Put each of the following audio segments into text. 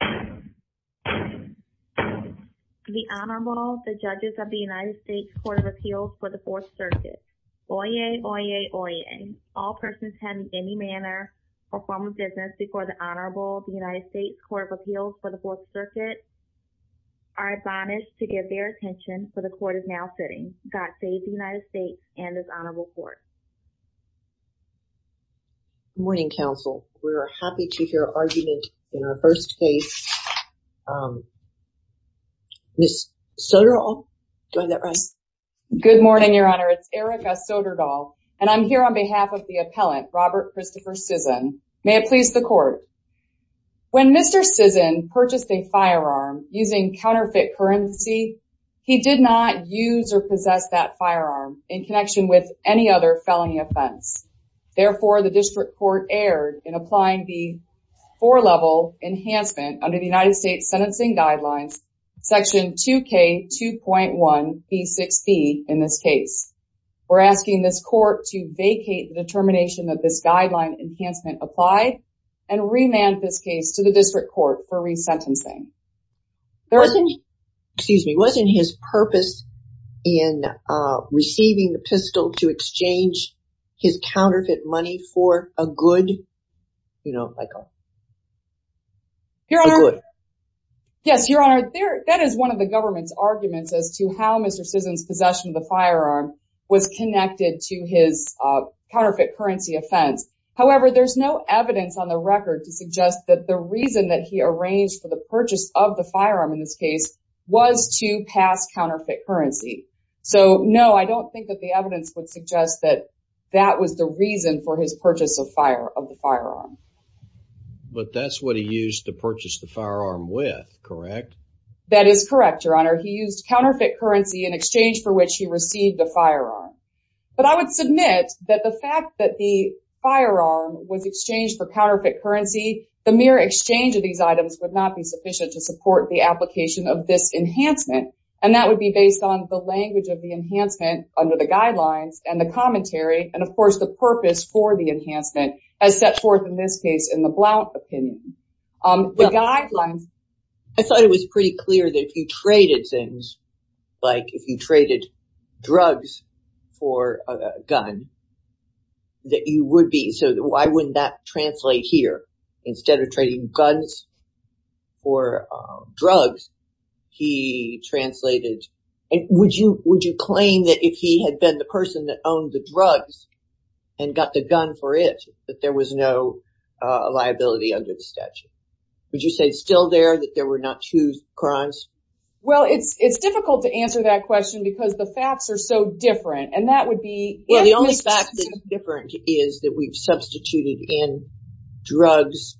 The Honorable, the Judges of the United States Court of Appeals for the Fourth Circuit. Oyez, oyez, oyez. All persons have in any manner or form of business before the Honorable of the United States Court of Appeals for the Fourth Circuit are admonished to give their attention for the Court is now sitting. God save the United States and this Honorable Court. Good morning, counsel. We are happy to hear argument in our first case. Ms. Soderdahl, do I have that right? Good morning, Your Honor. It's Erica Soderdahl and I'm here on behalf of the appellant, Robert Christopher Cisson. May it please the Court. When Mr. Cisson purchased a firearm using counterfeit currency, he did not use or possess that firearm in connection with any other felony offense. Therefore, the District Court erred in applying the four-level enhancement under the United States Sentencing Guidelines, Section 2K2.1b6b in this case. We're asking this Court to vacate the determination that this guideline enhancement applied and remand this case to the District Court for resentencing. There wasn't, excuse me, wasn't his purpose in receiving the pistol to exchange his counterfeit money for a good, you know, like a a good. Yes, Your Honor. That is one of the government's arguments as to how Mr. Cisson's possession of the firearm was connected to his counterfeit currency offense. However, there's no evidence on the record to suggest that the reason that he arranged for the purchase of the counterfeit currency. So, no, I don't think that the evidence would suggest that that was the reason for his purchase of the firearm. But that's what he used to purchase the firearm with, correct? That is correct, Your Honor. He used counterfeit currency in exchange for which he received the firearm. But I would submit that the fact that the firearm was exchanged for counterfeit currency, the mere exchange of these items would not be sufficient to support the application of this and that would be based on the language of the enhancement under the guidelines and the commentary and, of course, the purpose for the enhancement as set forth in this case in the Blount opinion. The guidelines... I thought it was pretty clear that if you traded things, like if you traded drugs for a gun, that you would be, so why wouldn't that translate here? Instead of trading guns for drugs, he translated... Would you claim that if he had been the person that owned the drugs and got the gun for it, that there was no liability under the statute? Would you say it's still there, that there were not two crimes? Well, it's difficult to answer that question because the facts are so different and that would be... Well, the only fact that it's different is that we've substituted in drugs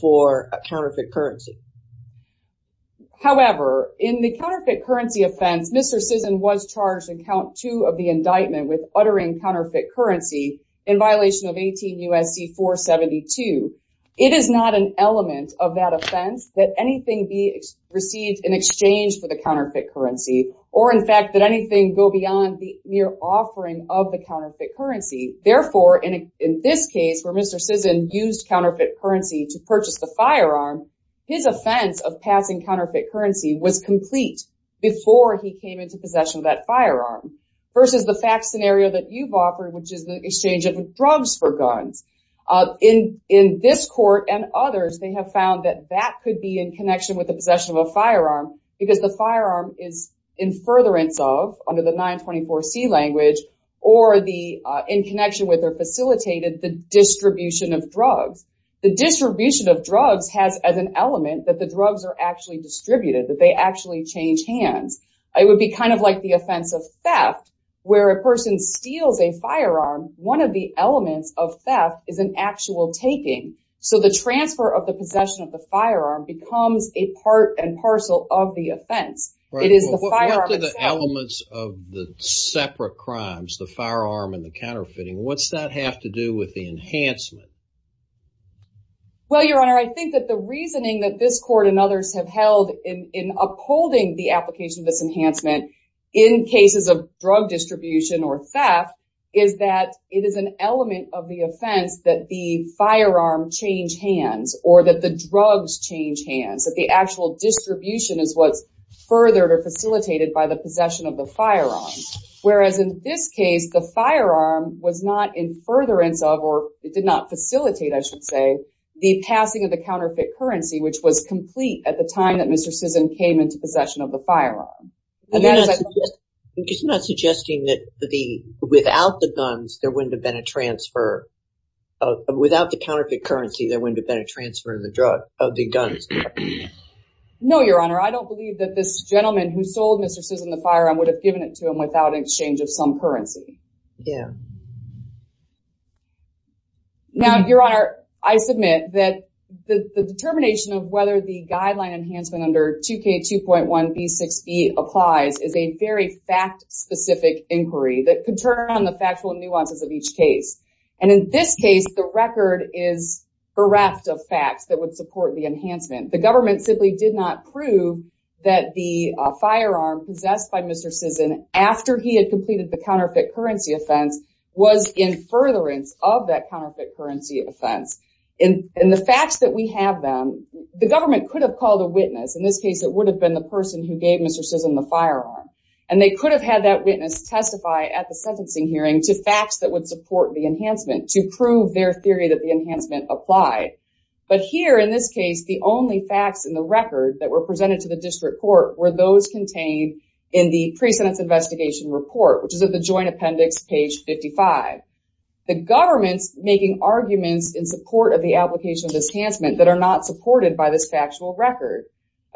for a counterfeit currency. However, in the counterfeit currency offense, Mr. Sisson was charged in count two of the indictment with uttering counterfeit currency in violation of 18 U.S.C. 472. It is not an element of that offense that anything be received in exchange for the counterfeit currency or, in fact, that anything go beyond the mere offering of the firearm. In this case, where Mr. Sisson used counterfeit currency to purchase the firearm, his offense of passing counterfeit currency was complete before he came into possession of that firearm versus the fact scenario that you've offered, which is the exchange of drugs for guns. In this court and others, they have found that that could be in connection with the possession of a firearm because the firearm is in furtherance of, under the 924C language, or in connection with facilitated the distribution of drugs. The distribution of drugs has as an element that the drugs are actually distributed, that they actually change hands. It would be kind of like the offense of theft where a person steals a firearm. One of the elements of theft is an actual taking. So, the transfer of the possession of the firearm becomes a part and parcel of the offense. It is the firearm itself. What are the elements of the separate crimes, the firearm and counterfeiting? What's that have to do with the enhancement? Well, your honor, I think that the reasoning that this court and others have held in upholding the application of this enhancement in cases of drug distribution or theft is that it is an element of the offense that the firearm change hands or that the drugs change hands, that the actual distribution is what's furthered or facilitated by the possession of the firearm. Whereas in this case, the firearm was not in furtherance of, or it did not facilitate, I should say, the passing of the counterfeit currency, which was complete at the time that Mr. Sisson came into possession of the firearm. It's not suggesting that the, without the guns, there wouldn't have been a transfer, without the counterfeit currency, there wouldn't have been a transfer of the drug, of the guns. No, your honor. I don't believe that this gentleman who sold Mr. Sisson the firearm would have given it to him without an exchange of some currency. Yeah. Now, your honor, I submit that the determination of whether the guideline enhancement under 2k 2.1b6e applies is a very fact-specific inquiry that could turn on the factual nuances of each case. And in this case, the record is bereft of facts that would support the enhancement. The government simply did not prove that the firearm possessed by Mr. Sisson after he had completed the counterfeit currency offense was in furtherance of that counterfeit currency offense. In the facts that we have them, the government could have called a witness. In this case, it would have been the person who gave Mr. Sisson the firearm. And they could have had that witness testify at a sentencing hearing to facts that would support the enhancement to prove their theory that the enhancement applied. But here, in this case, the only facts in the record that were presented to the district court were those contained in the pre-sentence investigation report, which is at the joint appendix, page 55. The government's making arguments in support of the application of this enhancement that are not supported by this factual record.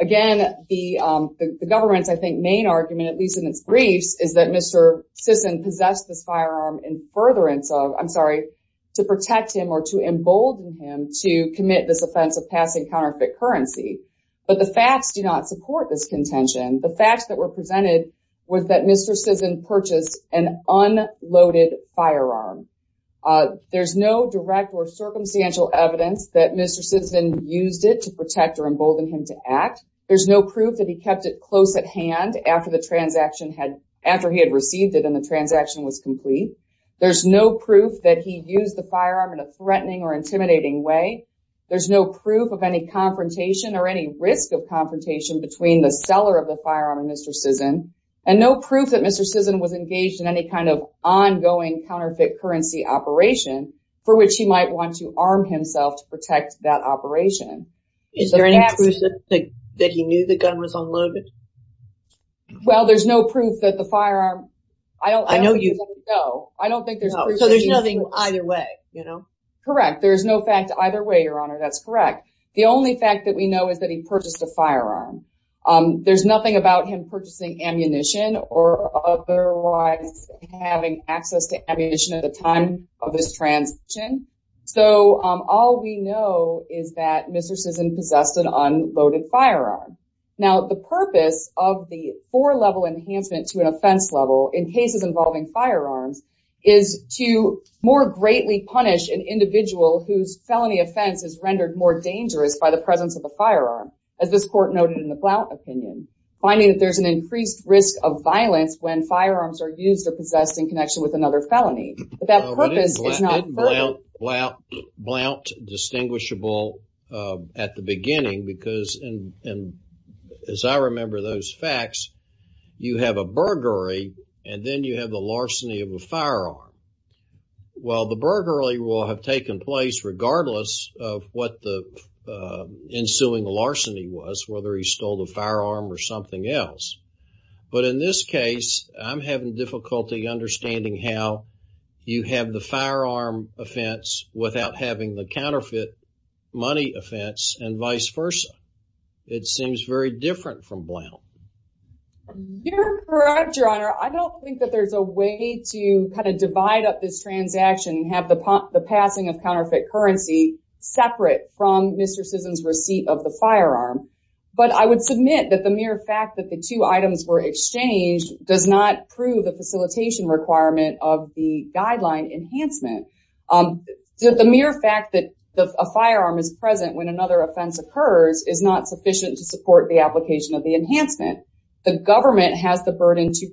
Again, the government's, I think, main argument, at least in its briefs, is that Mr. Sisson possessed this firearm in furtherance of, I'm sorry, to protect him or to embolden him to commit this offense of passing counterfeit currency. But the facts do not support this contention. The facts that were presented was that Mr. Sisson purchased an unloaded firearm. There's no direct or circumstantial evidence that Mr. Sisson used it to protect or embolden him to act. There's no proof that he kept it close at hand after the transaction had, after he had received it and the transaction was complete. There's no proof that he used the firearm in a threatening or intimidating way. There's no proof of any confrontation or any risk of confrontation between the seller of the firearm and Mr. Sisson. And no proof that Mr. Sisson was engaged in any kind of ongoing counterfeit currency operation for which he might want to protect that operation. Is there any proof that he knew the gun was unloaded? Well, there's no proof that the firearm... I know you... No, I don't think there's... So there's nothing either way, you know? Correct. There's no fact either way, Your Honor. That's correct. The only fact that we know is that he purchased a firearm. There's nothing about him purchasing ammunition or otherwise having access to ammunition at the time of this transaction. So all we know is that Mr. Sisson possessed an unloaded firearm. Now the purpose of the four-level enhancement to an offense level in cases involving firearms is to more greatly punish an individual whose felony offense is rendered more dangerous by the presence of a firearm. As this court noted in the Blount opinion, finding that there's an increased risk of violence when firearms are used or possessed in connection with another felony. But that purpose is not... Blount distinguishable at the beginning because, and as I remember those facts, you have a burglary and then you have the larceny of a firearm. Well, the burglary will have taken place regardless of what the ensuing larceny was, whether he stole the firearm or something else. But in this case, I'm having difficulty understanding how you have the firearm offense without having the counterfeit money offense and vice versa. It seems very different from Blount. You're correct, Your Honor. I don't think that there's a way to kind of divide up this transaction and have the passing of counterfeit currency separate from Mr. Sisson's receipt of the firearm. But I would submit that the mere fact that the two items were exchanged does not prove the facilitation requirement of the guideline enhancement. The mere fact that a firearm is present when another offense occurs is not sufficient to support the application of the enhancement. The government has the burden to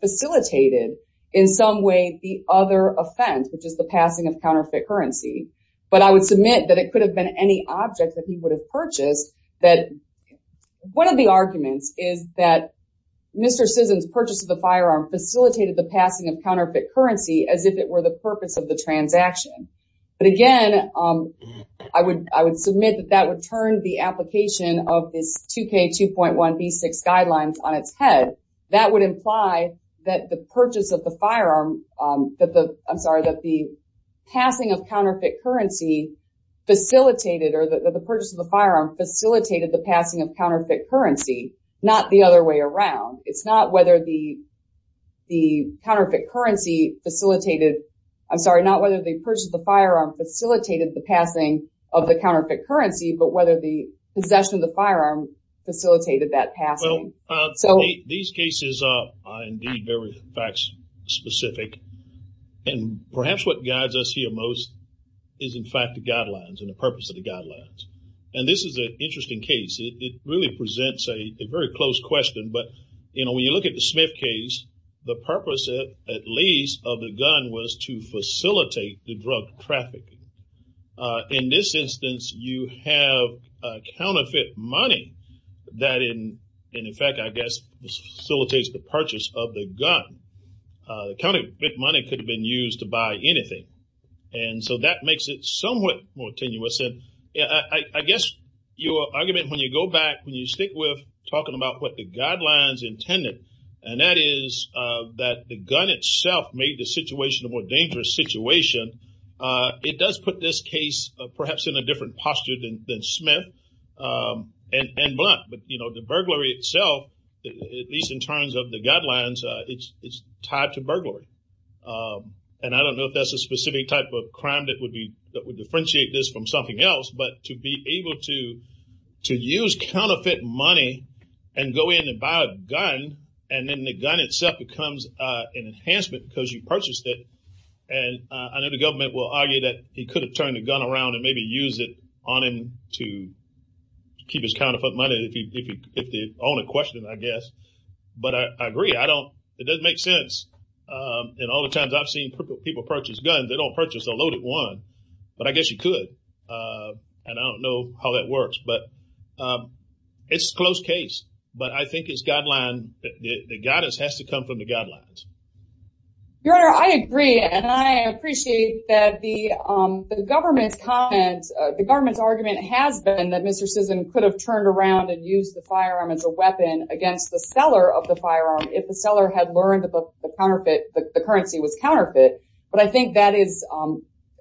facilitate it in some way, the other offense, which is the passing of counterfeit currency. But I would submit that it could have been any object that he would have purchased. That one of the arguments is that Mr. Sisson's purchase of the firearm facilitated the passing of counterfeit currency as if it were the purpose of the transaction. But again, I would submit that would turn the application of this 2k 2.1 v6 guidelines on its head. That would imply that the purchase of the firearm, that the, I'm sorry, that the passing of counterfeit currency facilitated or that the purchase of the firearm facilitated the passing of counterfeit currency, not the other way around. It's not whether the counterfeit currency facilitated, I'm sorry, not whether the purchase of the firearm facilitated the passing of the counterfeit currency, but whether the possession of the firearm facilitated that passing. So these cases are indeed very facts specific and perhaps what guides us here most is in fact the guidelines and the purpose of the guidelines. And this is an interesting case. It really presents a very close question, but you know, when you look at the Smith case, the purpose of at least of the gun was to facilitate the drug traffic. In this instance, you have a counterfeit money that in fact, I guess, facilitates the purchase of the gun. Counterfeit money could have been used to buy anything. And so that makes it somewhat more tenuous. And I guess your argument, when you go back, when you stick with talking about what the guidelines intended, and that is that the gun itself made the situation a more dangerous situation, it does put this case perhaps in a different posture than Smith and Blount. But you know, the burglary itself, at least in terms of the guidelines, it's tied to burglary. And I don't know if that's a specific type of crime that would differentiate this from something else, but to be able to use counterfeit money and go in and buy a gun, and then the gun itself becomes an enhancement because you purchased it. And I know the government will argue that he could have turned the gun around and maybe used it on him to keep his counterfeit money, if the owner questioned, I guess. But I agree. I don't, it doesn't make sense. And all the times I've seen people purchase guns, they don't purchase a loaded one. But I guess you could. And I don't know how that works. But it's a close case. But I think it's guideline, the guidance has to come from the guidelines. Your Honor, I agree. And I appreciate that the government's comment, the government's argument has been that Mr. Sisson could have turned around and use the firearm as a weapon against the seller of the firearm, if the seller had learned that the counterfeit, the currency was counterfeit. But I think that is,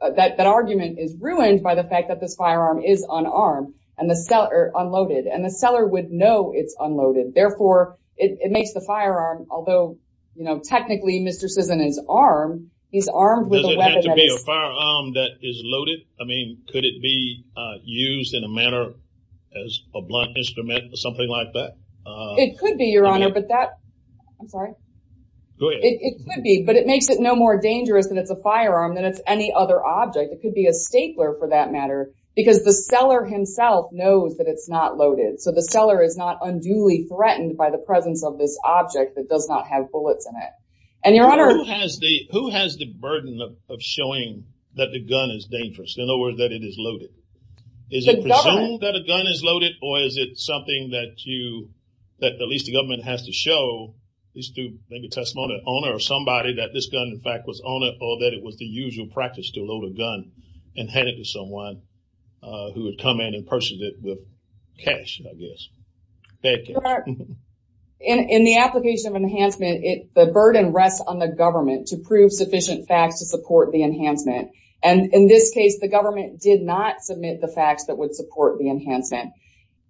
that argument is ruined by the fact that this firearm is unarmed, and the seller, unloaded, and the seller would know it's unloaded. Therefore, it makes the firearm, although, you know, technically, Mr. Sisson is armed, he's armed with a weapon. Does it have to be a firearm that is loaded? I mean, could it be used in a manner as a blunt instrument or something like that? It could be, Your Honor, but that, I'm sorry. Go ahead. It could be, but it makes it no more dangerous than it's a firearm than it's any other object. It could be a stapler for that matter, because the seller himself knows that it's not loaded. So the seller is not unduly threatened by the presence of this object that does not have bullets in it. And Your Honor- Who has the burden of showing that the gun is dangerous, in other words, that it is loaded? Is it presumed that a gun is loaded, or is it something that you, that at least the government has to show, at least through maybe testimony, an owner or somebody that this gun, in fact, was owned, or that it was the usual practice to load a gun and hand it to someone who would come in and purchase it with cash, I guess. In the application of enhancement, the burden rests on the government to prove sufficient facts to support the enhancement. And in this case, the government did not submit the facts that would support the enhancement.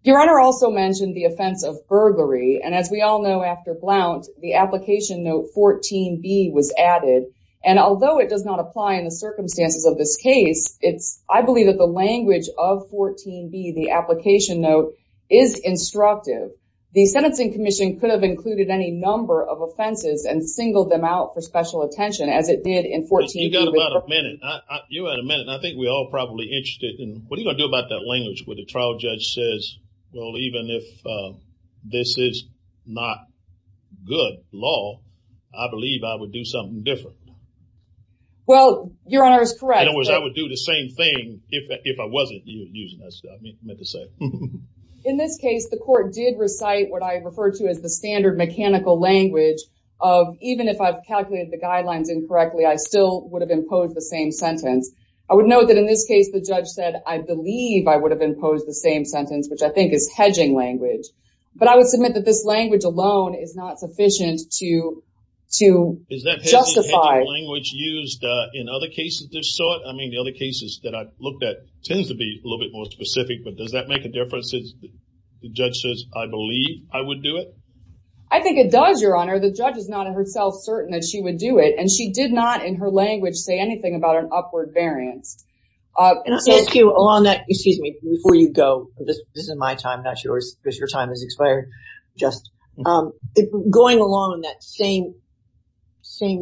Your Honor also mentioned the offense of burglary. And as we all know, after Blount, the application note 14B was added. And although it does not apply in the circumstances of this case, it's, I believe that the language of 14B, the application note, is instructive. The Sentencing Commission could have included any number of offenses and singled them out for special attention, as it did in 14- You got about a minute. You had a minute, and I think we're all probably interested in, what are you going to do about that This is not good law. I believe I would do something different. Well, Your Honor is correct. In other words, I would do the same thing if I wasn't using this, I meant to say. In this case, the court did recite what I referred to as the standard mechanical language of, even if I've calculated the guidelines incorrectly, I still would have imposed the same sentence. I would note that in this case, the judge said, I believe I would have imposed the sentence, which I think is hedging language. But I would submit that this language alone is not sufficient to justify- Is that hedging language used in other cases of this sort? I mean, the other cases that I've looked at tends to be a little bit more specific, but does that make a difference if the judge says, I believe I would do it? I think it does, Your Honor. The judge is not in herself certain that she would do it, and she did not, in her language, say anything about an This is my time, not yours, because your time has expired. Just going along that same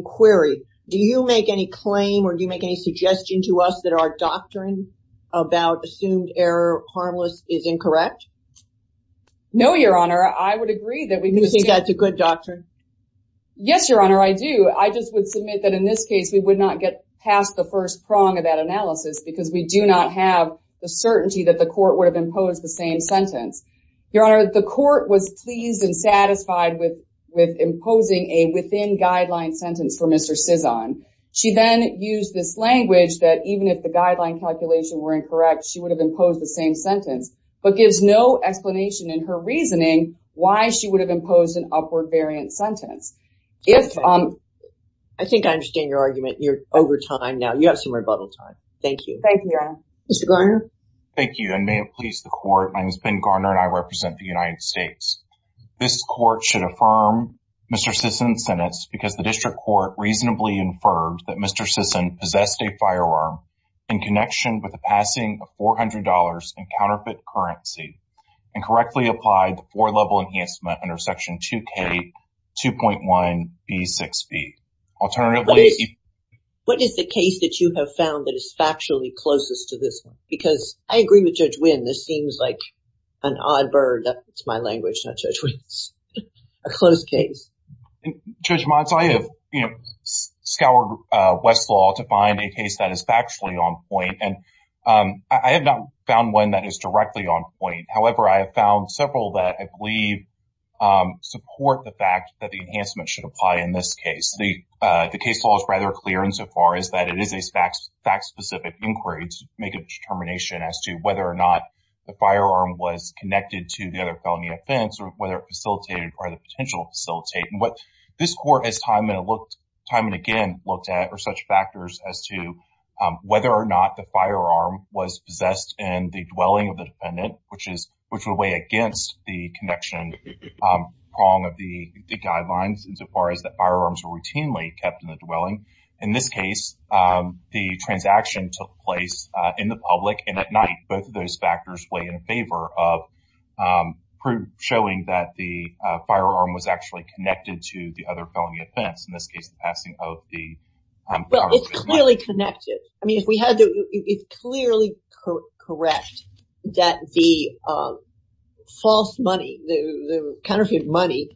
query, do you make any claim or do you make any suggestion to us that our doctrine about assumed error harmless is incorrect? No, Your Honor. I would agree that we- You think that's a good doctrine? Yes, Your Honor, I do. I just would submit that in this case, we would not get past the first prong of that analysis because we do not have the certainty that the court would have imposed the same sentence. Your Honor, the court was pleased and satisfied with imposing a within guideline sentence for Mr. Cizon. She then used this language that even if the guideline calculation were incorrect, she would have imposed the same sentence, but gives no explanation in her reasoning why she would have imposed an upward variant sentence. I think I understand your argument. You're over time now. You have some rebuttal time. Thank you. Thank you, Your Honor. Mr. Garner? Thank you, and may it please the court, my name is Ben Garner and I represent the United States. This court should affirm Mr. Cizon's sentence because the district court reasonably inferred that Mr. Cizon possessed a firearm in connection with the passing of $400 in counterfeit currency and correctly applied the four-level enhancement under Section 2K 2.1b6b. Alternatively- What is the case that you have found that is factually closest to this one? Because I agree with Judge Wynn, this seems like an odd bird. It's my language, not Judge Wynn's. A close case. Judge Motz, I have scoured Westlaw to find a case that is factually on point and I have not found one that is directly on point. However, I have found several that I believe support the fact that the enhancement should apply in this case. The case law is rather clear insofar as that it is a fact-specific inquiry to make a determination as to whether or not the firearm was connected to the other felony offense or whether it facilitated or the potential facilitate. What this court has time and again looked at are such factors as to whether or not the firearm was possessed in the dwelling of the were routinely kept in the dwelling. In this case, the transaction took place in the public and at night. Both of those factors play in favor of proof showing that the firearm was actually connected to the other felony offense. In this case, the passing of the- Well, it's clearly connected. I mean, if we had to, it's clearly correct that the false money, the counterfeit money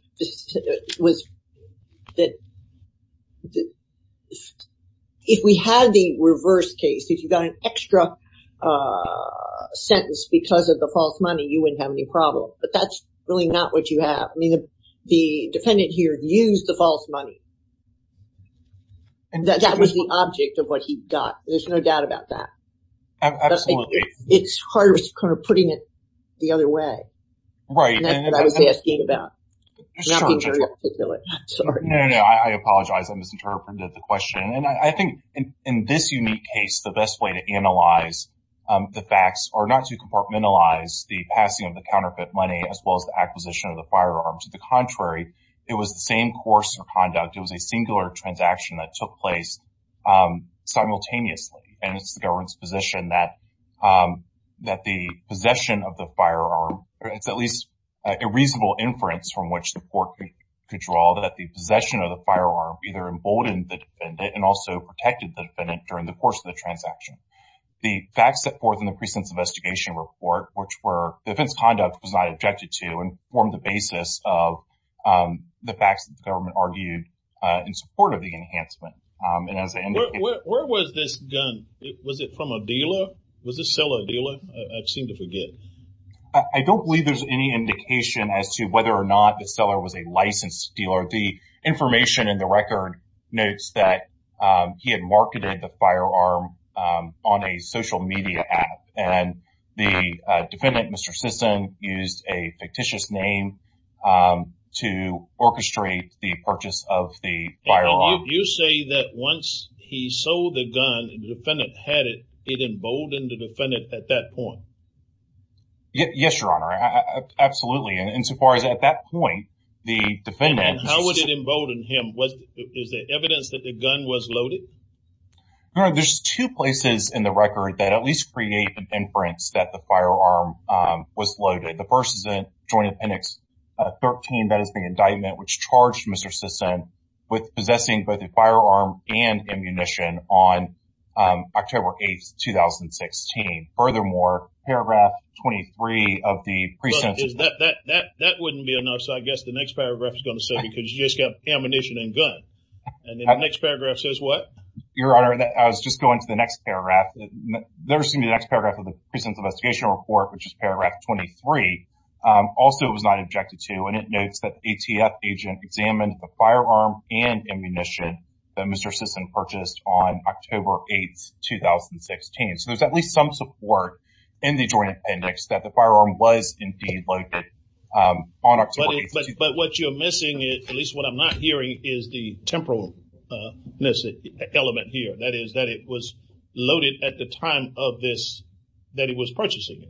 was that if we had the reverse case, if you got an extra sentence because of the false money, you wouldn't have any problem. But that's really not what you have. I mean, the defendant here used the false money. And that was the object of what he got. There's no doubt about that. Absolutely. It's hard putting it the other way. Right. I apologize. I misinterpreted the question. And I think in this unique case, the best way to analyze the facts are not to compartmentalize the passing of the counterfeit money as well as the acquisition of the firearm. To the contrary, it was the same course of conduct. It was a singular transaction that took place simultaneously. And it's the government's position that the possession of the firearm, it's at least a reasonable inference from which the court could draw that the possession of the firearm either emboldened the defendant and also protected the defendant during the course of the transaction. The facts set forth in the precinct's investigation report, which were defense conduct was not objected to and formed the basis of the facts that the government argued in support of the enhancement. And as I indicated- Was it from a dealer? Was the seller a dealer? I seem to forget. I don't believe there's any indication as to whether or not the seller was a licensed dealer. The information in the record notes that he had marketed the firearm on a social media app. And the defendant, Mr. Sisson, used a fictitious name to orchestrate the purchase of the firearm. You say that once he sold the gun and the defendant had it, it emboldened the defendant at that point? Yes, Your Honor. Absolutely. And so far as at that point, the defendant- And how would it embolden him? Is there evidence that the gun was loaded? There's two places in the record that at least create an inference that the firearm was loaded. The first is in Joint Appendix 13. That is the indictment which charged Mr. Sisson with possessing both a firearm and ammunition on October 8th, 2016. Furthermore, paragraph 23 of the- That wouldn't be enough. So I guess the next paragraph is going to say because you just got ammunition and gun. And the next paragraph says what? Your Honor, I was just going to the next paragraph. There's going to be the next paragraph of the Precinct Investigation Report, which is paragraph 23. Also, it was not objected to. And it notes that ATF agent examined the and ammunition that Mr. Sisson purchased on October 8th, 2016. So there's at least some support in the Joint Appendix that the firearm was indeed loaded on October 8th, 2016. But what you're missing, at least what I'm not hearing, is the temporal element here. That is that it was loaded at the time of this, that he was purchasing it.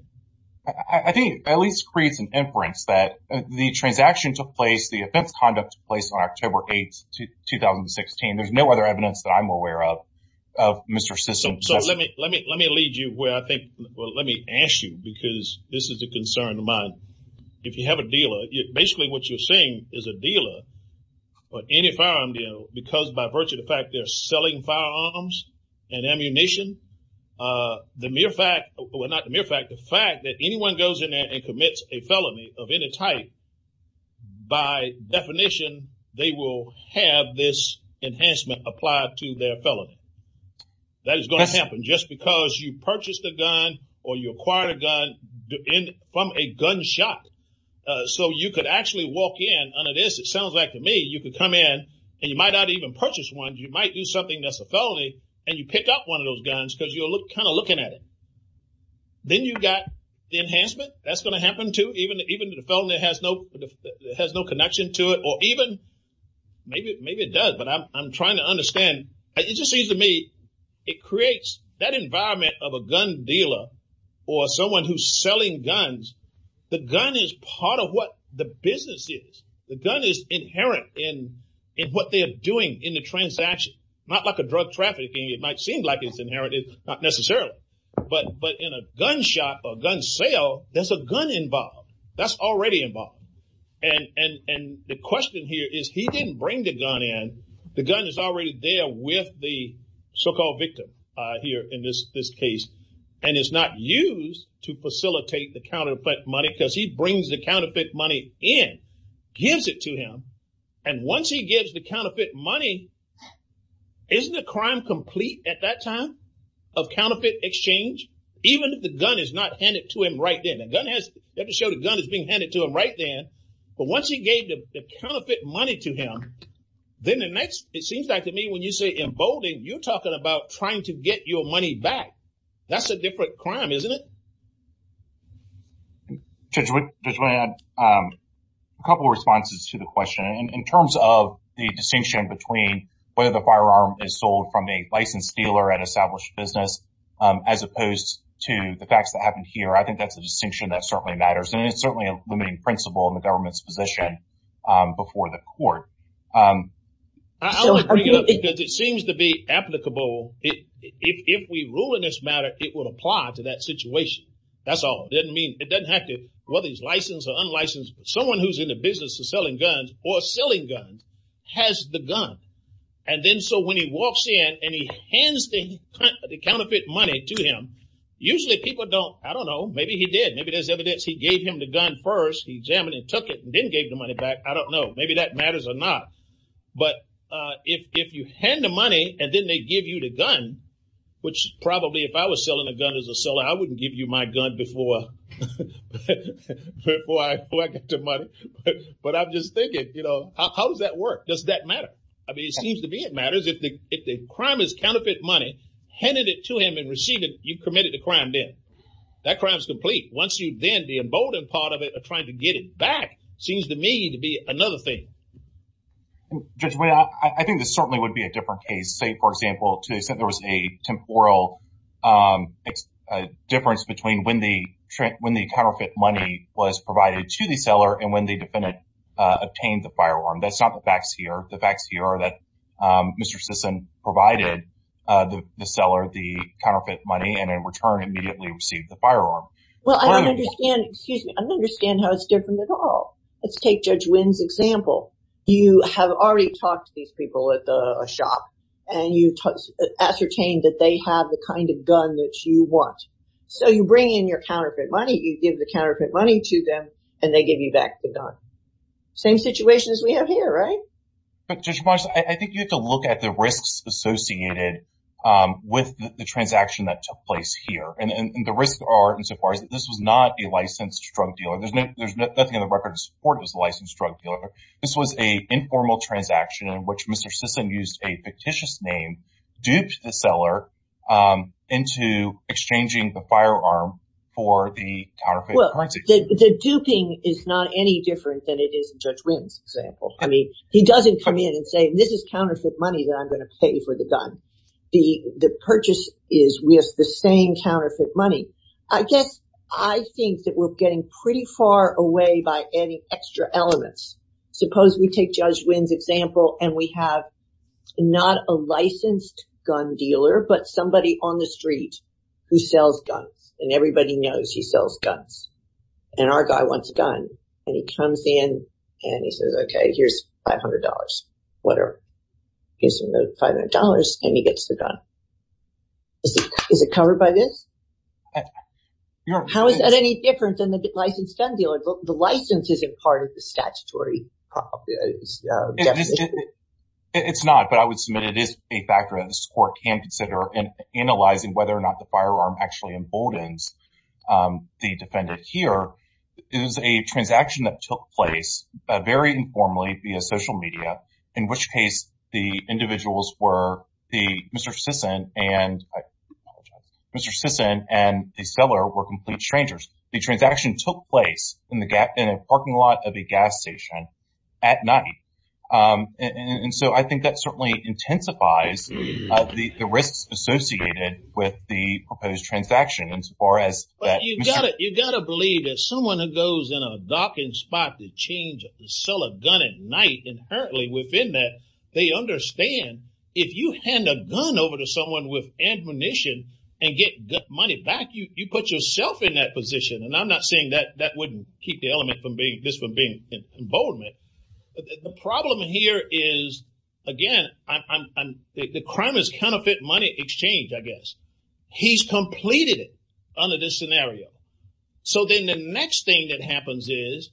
I think it at least creates an inference that the transaction took place, the offense conduct took place on October 8th, 2016. There's no other evidence that I'm aware of, of Mr. Sisson possessing- So let me lead you where I think, well, let me ask you, because this is a concern of mine. If you have a dealer, basically what you're saying is a dealer, or any firearm dealer, because by virtue of the fact they're selling firearms and ammunition, the mere fact, well, not the mere fact, the fact that anyone goes in there and commits a felony of any type, by definition, they will have this enhancement applied to their felony. That is going to happen just because you purchased a gun or you acquired a gun from a gunshot. So you could actually walk in under this, it sounds like to me, you could come in and you might not even purchase one. You might do something that's a felony and you pick up one of those guns because you're kind of looking at it. Then you've got the enhancement, that's going to happen too, even if the felony has no connection to it, or even, maybe it does, but I'm trying to understand. It just seems to me it creates that environment of a gun dealer or someone who's selling guns. The gun is part of what the business is. The gun is inherent in what they're doing in the transaction, not like a drug trafficking. It might seem like it's inherited, not necessarily, but in a gunshot or a gun sale, there's a gun involved. That's already involved. The question here is he didn't bring the gun in. The gun is already there with the so-called victim here in this case, and it's not used to facilitate the counterfeit money because he brings the counterfeit money in, gives it to him, and once he gives the counterfeit money, isn't the crime complete at that time of counterfeit exchange, even if the gun is not handed to him right then? You have to show the gun is being handed to him right then, but once he gave the counterfeit money to him, then the next, it seems like to me when you say emboldened, you're talking about trying to get your money back. That's a different crime, isn't it? Judge, I just want to add a couple of responses to the question. In terms of the distinction between whether the firearm is sold from a licensed dealer at an established business, as opposed to the facts that happened here, I think that's a distinction that certainly matters, and it's certainly a limiting principle in the government's position before the court. I only bring it up because it seems to be applicable. If we rule in this matter, it will apply to that situation. That's all. It doesn't have to, whether he's licensed or unlicensed, someone who's in the business of selling guns or selling guns has the gun, and then so when he walks in and he hands the counterfeit money to him, usually people don't, I don't know, maybe he did. Maybe there's evidence he gave him the gun first. He examined it, took it, and then gave the money back. I don't know. Maybe that matters or not, but if you hand the money and then they give you the gun, which probably if I was selling a gun as a seller, I wouldn't give you my gun before I collected the money, but I'm just thinking, you know, how does that work? Does that matter? I mean, it seems to me it matters. If the crime is counterfeit money, handed it to him and received it, you've committed a crime then. That crime's complete. Once you then, the emboldened part of it of trying to get it back seems to me to be another thing. Judge Wynn, I think this certainly would be a different case. Say, for example, to the extent there was a temporal difference between when the counterfeit money was provided to the seller and when the defendant obtained the firearm. That's not the facts here. The facts here are that Mr. Sisson provided the seller the counterfeit money and in return immediately received the firearm. Well, I don't understand, excuse me, I don't understand how it's different at all. Let's take Judge Wynn's example. You have already talked to these people at the shop and you ascertained that they have the kind of gun that you want. So, you bring in your counterfeit money, you give the counterfeit money to them and they give you back the gun. Same situation as we have here, right? But Judge March, I think you have to look at the risks associated with the transaction that took place here and the risks are insofar as this was not a licensed drug dealer. There's nothing in the record to support it was a licensed drug dealer. This was an informal transaction in which Mr. Sisson used a fictitious name, duped the seller into exchanging the firearm for the counterfeit currency. Well, the duping is not any different than it is in Judge Wynn's example. I mean, he doesn't come in and say, this is counterfeit money that I'm going to pay for the gun. The purchase is with the same counterfeit money. I guess I think that we're getting pretty far away by adding extra elements. Suppose we take Judge Wynn's example and we have not a licensed gun dealer, but somebody on the street who sells guns and everybody knows he sells guns. And our guy wants a gun and he comes in and he says, okay, here's $500. He gives him the $500 and he gets the gun. Is it covered by this? How is that any different than the licensed gun dealer? The license isn't part of the statutory definition. It's not, but I would submit it is a factor that the court can consider in analyzing whether or not the firearm actually emboldens the defendant here. It was a transaction that took place very informally via social media, in which case the individuals were, Mr. Sisson and the seller were complete strangers. The transaction took place in a parking lot of a gas station at night. And so I think that certainly intensifies the risks associated with the change. You sell a gun at night. Inherently within that, they understand if you hand a gun over to someone with ammunition and get money back, you put yourself in that position. And I'm not saying that that wouldn't keep the element from being this from being emboldened. But the problem here is, again, the crime is counterfeit money exchange, I guess. He's completed it under this scenario. So then the next thing that happens is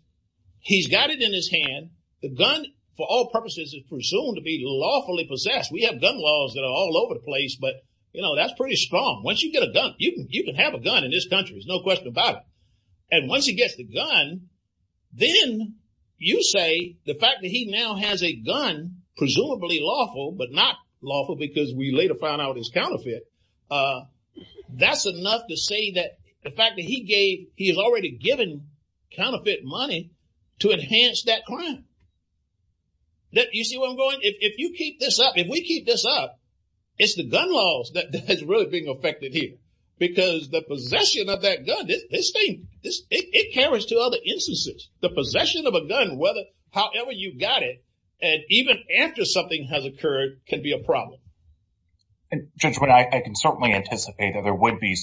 he's got it in his hand. The gun, for all purposes, is presumed to be lawfully possessed. We have gun laws that are all over the place, but that's pretty strong. Once you get a gun, you can have a gun in this country, there's no question about it. And once he gets the gun, then you say the fact that he now has a gun, presumably lawful, but not lawful because we later found out it's counterfeit. That's enough to say that the fact that he's already given counterfeit money to enhance that crime. You see where I'm going? If you keep this up, if we keep this up, it's the gun laws that's really being affected here. Because the possession of that gun, this thing, it carries to other instances. The possession of a gun, however you got it, and even after something has occurred, can be a problem. And Judge, I can certainly anticipate that there would be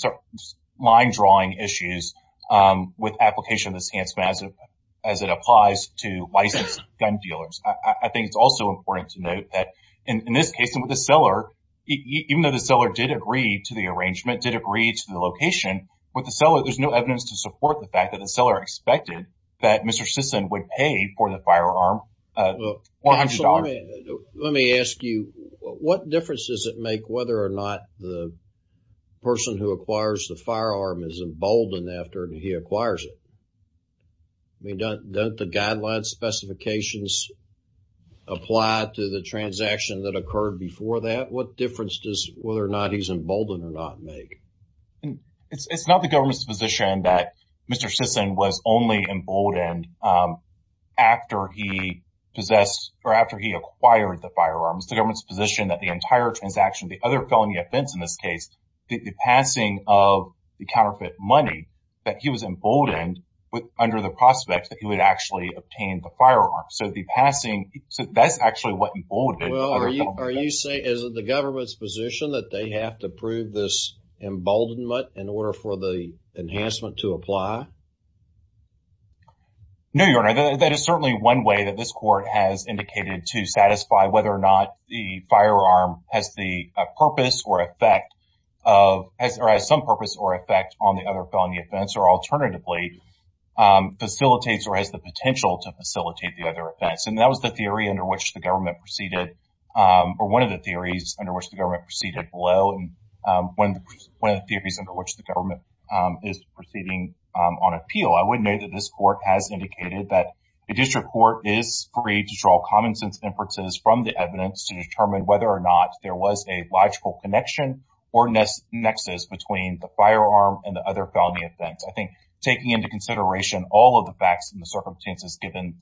line drawing issues with application of this enhancement as it applies to licensed gun dealers. I think it's also important to note that in this case, with the seller, even though the seller did agree to the arrangement, did agree to the location, with the seller, there's no evidence to support the fact that the seller expected that Mr. Sisson would pay for the firearm. Let me ask you, what difference does it make whether or not the person who acquires the firearm is emboldened after he acquires it? I mean, don't the guideline specifications apply to the transaction that occurred before that? What difference does whether or not he's emboldened or not make? It's not the government's position that Mr. Sisson was only emboldened after he possessed, or after he acquired the firearms. The government's position that the entire transaction, the other felony offense in this case, the passing of the counterfeit money, that he was emboldened under the prospect that he would actually obtain the firearm. So, the passing, so that's actually what emboldened. Well, are you saying, is it the government's position that they have to prove this emboldenment in order for the enhancement to apply? No, Your Honor. That is certainly one way that this court has indicated to satisfy whether or not the firearm has the purpose or effect of, or has some purpose or effect on the other felony offense, or alternatively, facilitates or has the potential to facilitate the other offense. And that was the theory under which the government proceeded, or one of the theories under which the government proceeded below, and one of the theories under which the government is proceeding on appeal. I would note that this court has indicated that the district court is free to draw common sense inferences from the evidence to determine whether or not there was a logical connection or nexus between the firearm and the other felony offense. I think taking into consideration all of the facts and the circumstances given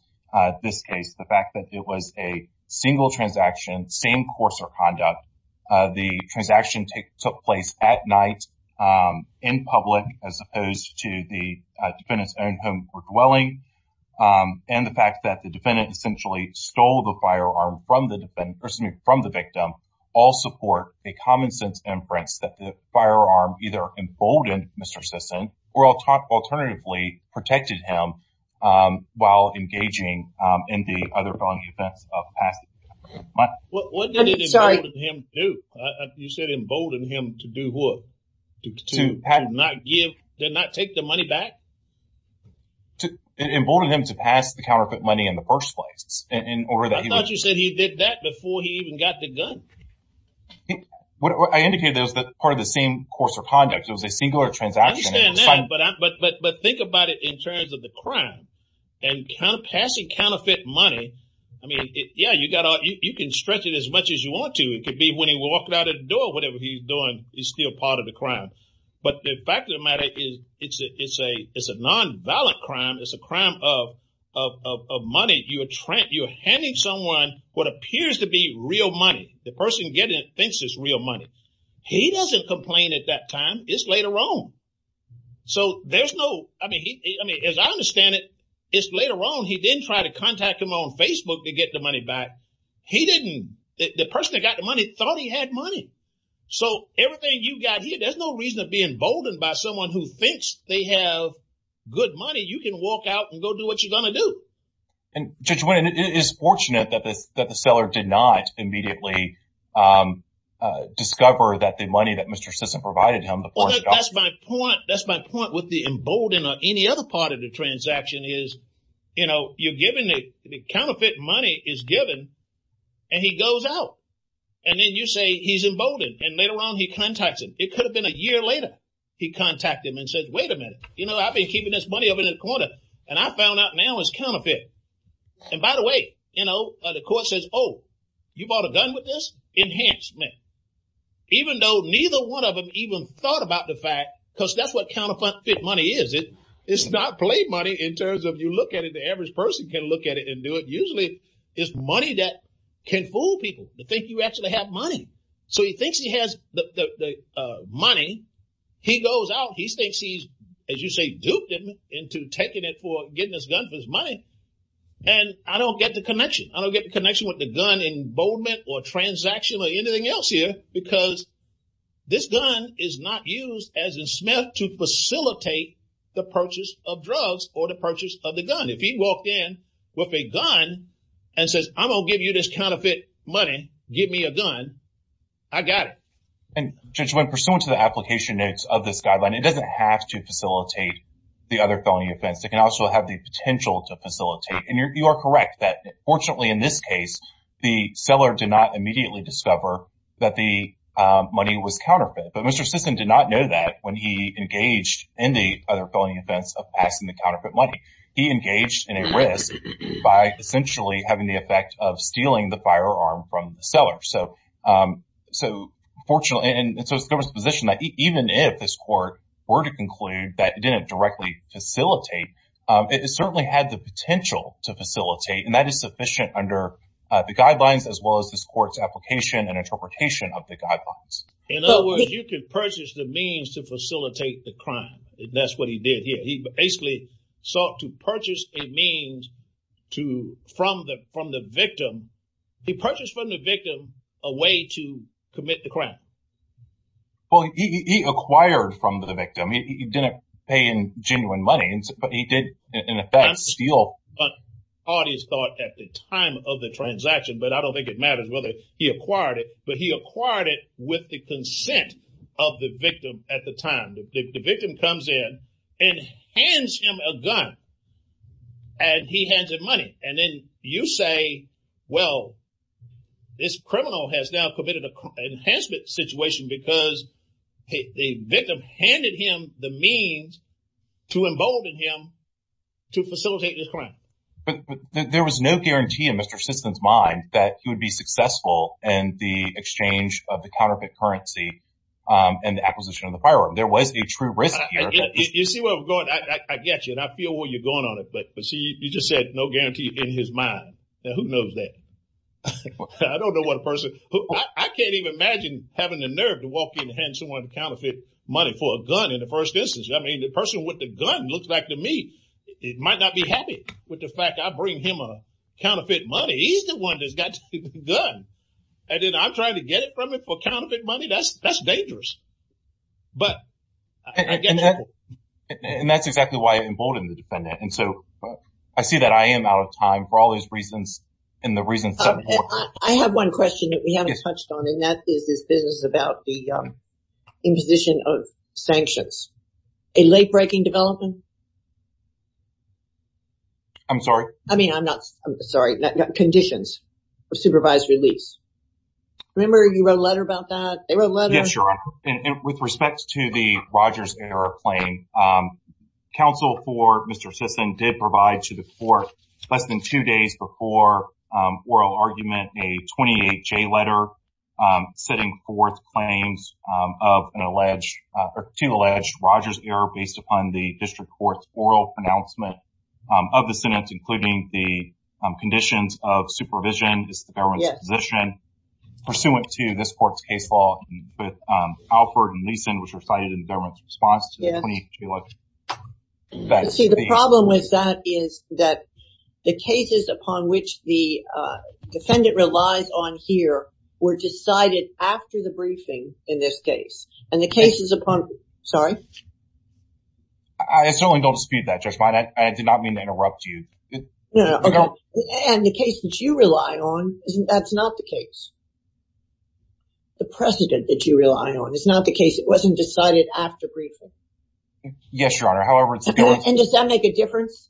this case, the fact that it was a single transaction, same course or conduct, the transaction took place at night, in public, as opposed to the defendant's own home or dwelling, and the fact that the defendant essentially stole the firearm from the victim, all support a common sense inference that the firearm either emboldened Mr. Sisson, or alternatively, protected him while engaging in the other felony offense of the past month. What did it embolden him to do? You said embolden to not take the money back? It emboldened him to pass the counterfeit money in the first place. I thought you said he did that before he even got the gun. I indicated that it was part of the same course of conduct. It was a singular transaction. I understand that, but think about it in terms of the crime, and passing counterfeit money, I mean, yeah, you can stretch it as much as you want to. It could be when he walked out the door, whatever he's doing is still part of the crime. But the fact of the matter is, it's a non-violent crime. It's a crime of money. You're handing someone what appears to be real money. The person getting it thinks it's real money. He doesn't complain at that time. It's later on. So there's no, I mean, as I understand it, it's later on. He didn't try to contact him on Facebook to get the money back. He didn't. The person that got the money thought he had money. So everything you got here, there's no reason to be emboldened by someone who thinks they have good money. You can walk out and go do what you're going to do. And Judge Wyden, it is fortunate that the seller did not immediately discover that the money that Mr. Sisson provided him before he got it. That's my point. That's my point with the embolden or any other part of the transaction is, you know, you're giving the counterfeit money is given and he goes out and then you say he's emboldened. And later on, he contacts him. It could have been a year later. He contacted him and said, wait a minute, you know, I've been keeping this money over the corner and I found out now it's counterfeit. And by the way, you know, the court says, oh, you bought a gun with this? Enhancement. Even though neither one of them even thought about the fact, because that's what money is. It's not play money in terms of you look at it, the average person can look at it and do it. Usually it's money that can fool people to think you actually have money. So he thinks he has money. He goes out, he thinks he's, as you say, duped him into taking it for getting this gun for his money. And I don't get the connection. I don't get the connection with the gun emboldenment or transaction or anything else here because this gun is not used as a Smith to facilitate the purchase of drugs or the purchase of the gun. If he walked in with a gun and says, I'm going to give you this counterfeit money, give me a gun. I got it. And just when pursuant to the application notes of this guideline, it doesn't have to facilitate the other felony offense. It can also have the potential to facilitate. And you're correct that fortunately in this case, the seller did not immediately discover that the money was counterfeit. But Mr. Sisson did not know that when he engaged in the other felony offense of passing the counterfeit money. He engaged in a risk by essentially having the effect of stealing the firearm from the seller. So, fortunately, and so it's a different position that even if this court were to conclude that it didn't directly facilitate, it certainly had the potential to facilitate. And that is sufficient under the guidelines as well as this court's application and interpretation of the guidelines. In other words, you can purchase the means to facilitate the crime. That's what he did here. He basically sought to purchase a means from the victim. He purchased from the victim a way to commit the crime. Well, he acquired from the victim. He didn't pay in genuine money, but he did in effect steal. The parties thought at the time of the transaction, but I don't think it matters whether he acquired it, but he acquired it with the consent of the victim at the time. The victim comes in and hands him a gun and he hands him money. And then you say, well, this criminal has now committed an enhancement situation because the victim handed him the means to embolden him to facilitate this crime. But there was no guarantee in Mr. Sisson's mind that he would be successful in the exchange of the counterfeit currency and the acquisition of the firearm. There was a true risk here. You see where we're going. I get you and I feel where you're going on it, but see, you just said no guarantee in his mind. Now, who knows that? I don't know what a person, I can't even imagine having the nerve to walk in and hand someone counterfeit money for a gun in the first instance. I mean, the person with the gun looks back to me. It might not be happy with the fact I bring him a counterfeit money. He's the one that's got the gun. And then I'm trying to get it from him for counterfeit money. That's dangerous. And that's exactly why I emboldened the defendant. And so I see that I am out of time for all these reasons and the reasons. I have one question that we haven't touched on and that is this business about the imposition of sanctions. A late-breaking development? I'm sorry. I mean, I'm not sorry. Conditions of supervised release. Remember you wrote a letter about that? They wrote a letter. With respect to the Rogers Airplane, counsel for Mr. Sisson did provide to the court less than two days before oral argument, a 28-J letter setting forth claims of an alleged, two alleged Rogers Air based upon the district court's oral pronouncement of the sentence, including the conditions of supervision is the government's position. Pursuant to this court's case law, Alford and Leeson was recited in the government's response to the 28-J letter. But see, the problem with that is that the cases upon which the defendant relies on here were decided after the briefing in this case. And the cases upon... Sorry? I certainly don't dispute that, Judge Fine. I did not mean to interrupt you. No, no. And the case that you rely on, that's not the case. The precedent that you rely on is not the case. It wasn't decided after briefing. Yes, Your Honor. However, it's... And does that make a difference?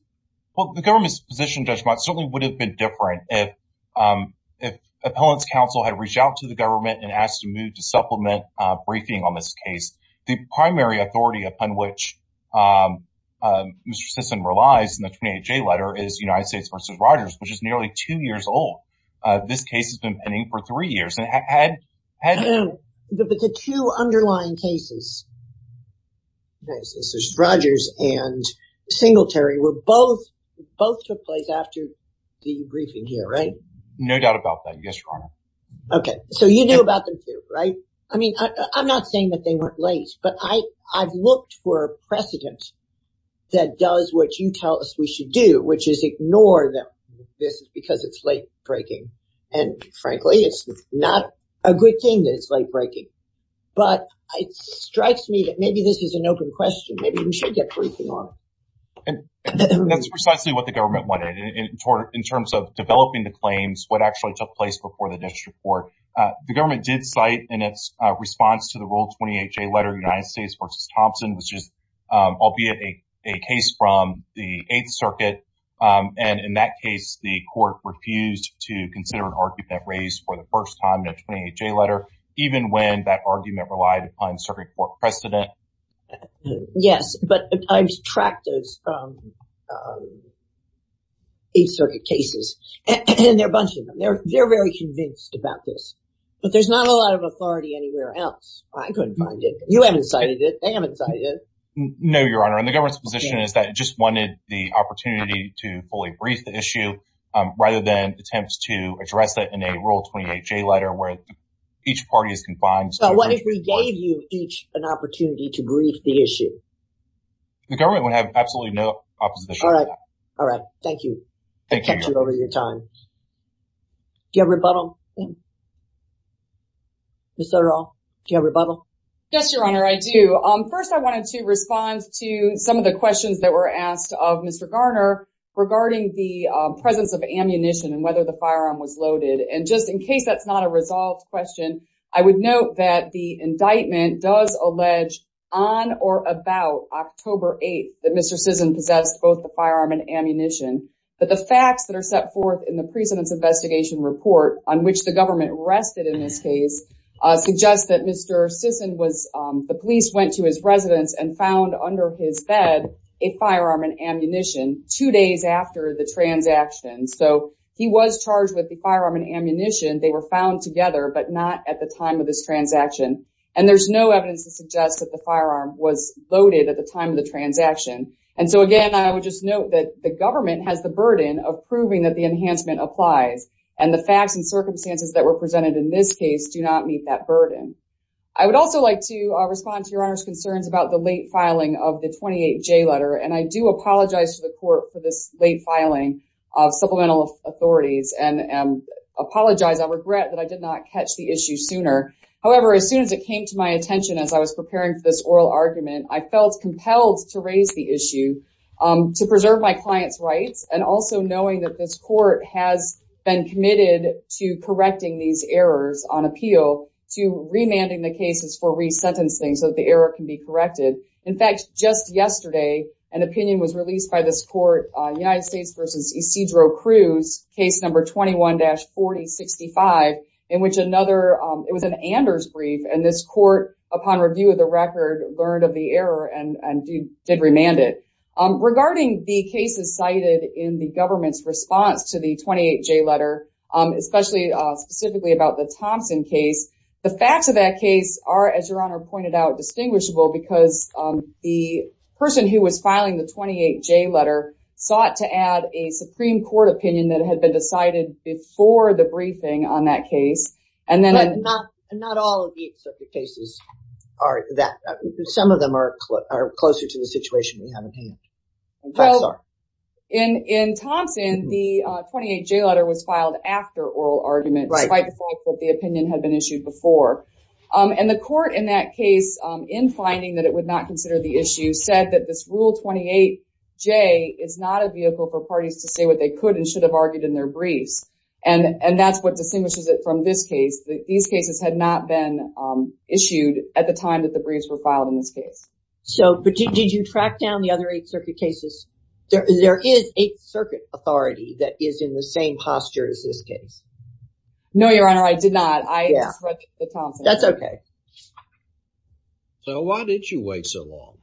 Well, the government's position, Judge Mott, certainly would have been different if appellant's counsel had reached out to the government and asked to move to supplement briefing on this case. The primary authority upon which Mr. Sisson relies in the 28-J letter is United States versus Rogers, which is nearly two years old. This case has been pending for three years. But the two underlying cases, Rogers and Singletary, both took place after the briefing here, right? No doubt about that, yes, Your Honor. Okay. So you knew about them too, right? I mean, I'm not saying that they weren't late, but I've looked for a precedent that does what you tell us we should do, which is ignore them. This is because it's late-breaking. And frankly, it's not a good thing that it's late-breaking. But it strikes me that maybe this is an open question. Maybe we should get briefing on it. That's precisely what the government wanted in terms of developing the claims, what actually took place before the district court. The government did cite in its response to the Rule 28-J letter, United States versus Thompson, which is albeit a case from the Eighth Circuit. And in that case, the court refused to consider an argument raised for the first time in a 28-J letter, even when that argument relied upon circuit court precedent. Yes, but I've tracked those Eighth Circuit cases, and there are a bunch of them. They're very convinced about this. But there's not a lot of authority anywhere else. I couldn't find it. You haven't cited it. They haven't cited it. No, Your Honor. And the government's wanted the opportunity to fully brief the issue, rather than attempts to address that in a Rule 28-J letter where each party is confined. So what if we gave you each an opportunity to brief the issue? The government would have absolutely no opposition to that. All right. All right. Thank you. Thank you, Your Honor. I've kept you over your time. Do you have a rebuttal? Ms. O'Donnell, do you have a rebuttal? Yes, Your Honor, I do. First, I wanted to respond to some of the questions that were asked of Mr. Garner regarding the presence of ammunition and whether the firearm was loaded. And just in case that's not a resolved question, I would note that the indictment does allege on or about October 8th that Mr. Sisson possessed both the firearm and ammunition. But the facts that are set forth in the President's Investigation Report, on which the government rested in this case, suggest that Mr. Sisson was, the police went to his residence and found under his bed a firearm and ammunition two days after the transaction. So he was charged with the firearm and ammunition. They were found together, but not at the time of this transaction. And there's no evidence to suggest that the firearm was loaded at the time of the transaction. And so again, I would just note that the government has the burden of proving that enhancement applies. And the facts and circumstances that were presented in this case do not meet that burden. I would also like to respond to Your Honor's concerns about the late filing of the 28J letter. And I do apologize to the court for this late filing of supplemental authorities and apologize. I regret that I did not catch the issue sooner. However, as soon as it came to my attention, as I was preparing for this oral argument, I felt compelled to raise the has been committed to correcting these errors on appeal to remanding the cases for resentencing so that the error can be corrected. In fact, just yesterday, an opinion was released by this court, United States v. Isidro Cruz, case number 21-4065, in which another, it was an Anders brief, and this court, upon review of the record, learned of the error and did remand it. Regarding the cases cited in the government's response to the 28J letter, especially specifically about the Thompson case, the facts of that case are, as Your Honor pointed out, distinguishable because the person who was filing the 28J letter sought to add a Supreme Court opinion that had been decided before the briefing on that case. And then... cases are that, some of them are closer to the situation we have in hand. In Thompson, the 28J letter was filed after oral argument, despite the fact that the opinion had been issued before. And the court in that case, in finding that it would not consider the issue, said that this Rule 28J is not a vehicle for parties to say what they could and should have argued in their briefs. And that's what distinguishes it from this case. These issues at the time that the briefs were filed in this case. So, did you track down the other 8th Circuit cases? There is 8th Circuit authority that is in the same posture as this case. No, Your Honor, I did not. That's okay. So, why did you wait so long?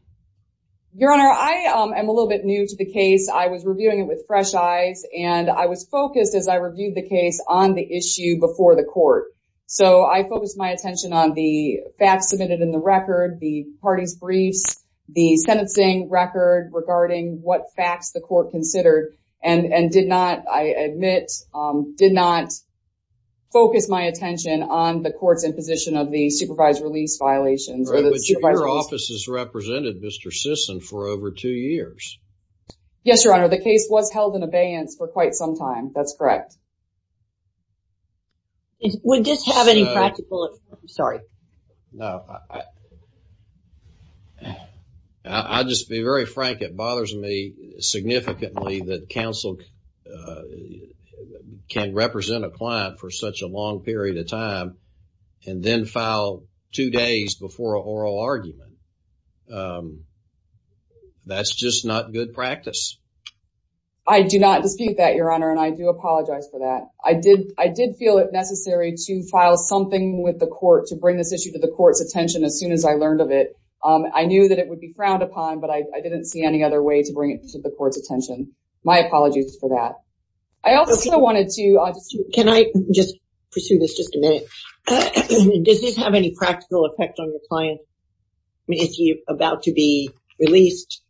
Your Honor, I am a little bit new to the case. I was reviewing it with fresh eyes, and I was focused as I reviewed the case on the issue before the court. So, I focused my attention on the facts submitted in the record, the party's briefs, the sentencing record regarding what facts the court considered, and did not, I admit, did not focus my attention on the court's imposition of the supervised release violations. Right, but your office has represented Mr. Sisson for over two years. Yes, Your Honor, the case was held in abeyance for quite some time. That's correct. Would this have any practical... I'm sorry. No, I'll just be very frank. It bothers me significantly that counsel can represent a client for such a long period of time and then file two days before an oral argument. That's just not good practice. I do not dispute that, Your Honor, and I do apologize for that. I did feel it necessary to file something with the court to bring this issue to the court's attention as soon as I learned of it. I knew that it would be frowned upon, but I didn't see any other way to bring it to the court's attention. My apologies for that. I also wanted to... Can I just pursue this just a minute? Does this have any practical effect on your client? Is he about to be released?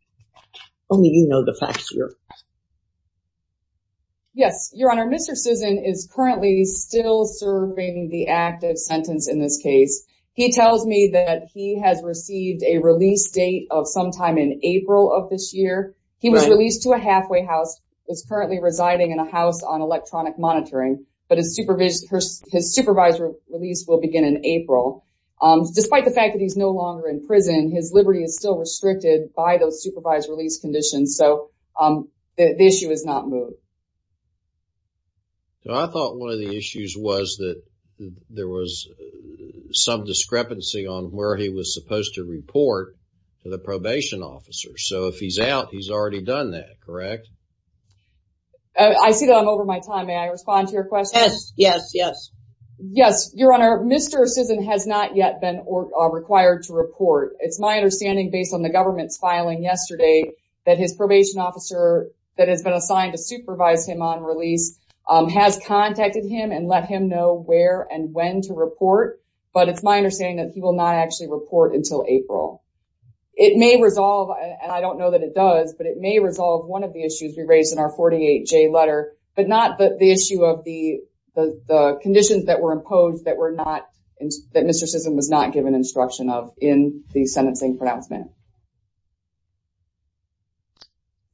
Only you know the facts here. Yes, Your Honor, Mr. Sisson is currently still serving the active sentence in this case. He tells me that he has received a release date of sometime in April of this year. He was released to a halfway house, is currently residing in a house on electronic monitoring, but his supervised release will begin in April. Despite the fact that he's no longer in prison, his liberty is still restricted by those supervised release conditions, so the issue is not moved. I thought one of the issues was that there was some discrepancy on where he was supposed to report to the probation officer, so if he's out, he's already done that, correct? I see that I'm over my time. May I respond to your question? Yes, yes, yes. Yes, Your Honor, Mr. Sisson has not yet been required to report. It's my understanding, based on the government's filing yesterday, that his probation officer that has been assigned to supervise him on release has contacted him and let him know where and when to report, but it's my understanding that he will not actually report until April. It may resolve, and I don't know that it does, but it may resolve one of the issues we raised in our 48J letter, but not the issue of the conditions that were imposed that Mr. Sisson was not given instruction of in the sentencing pronouncement.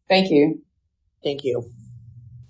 Thank you. Thank you.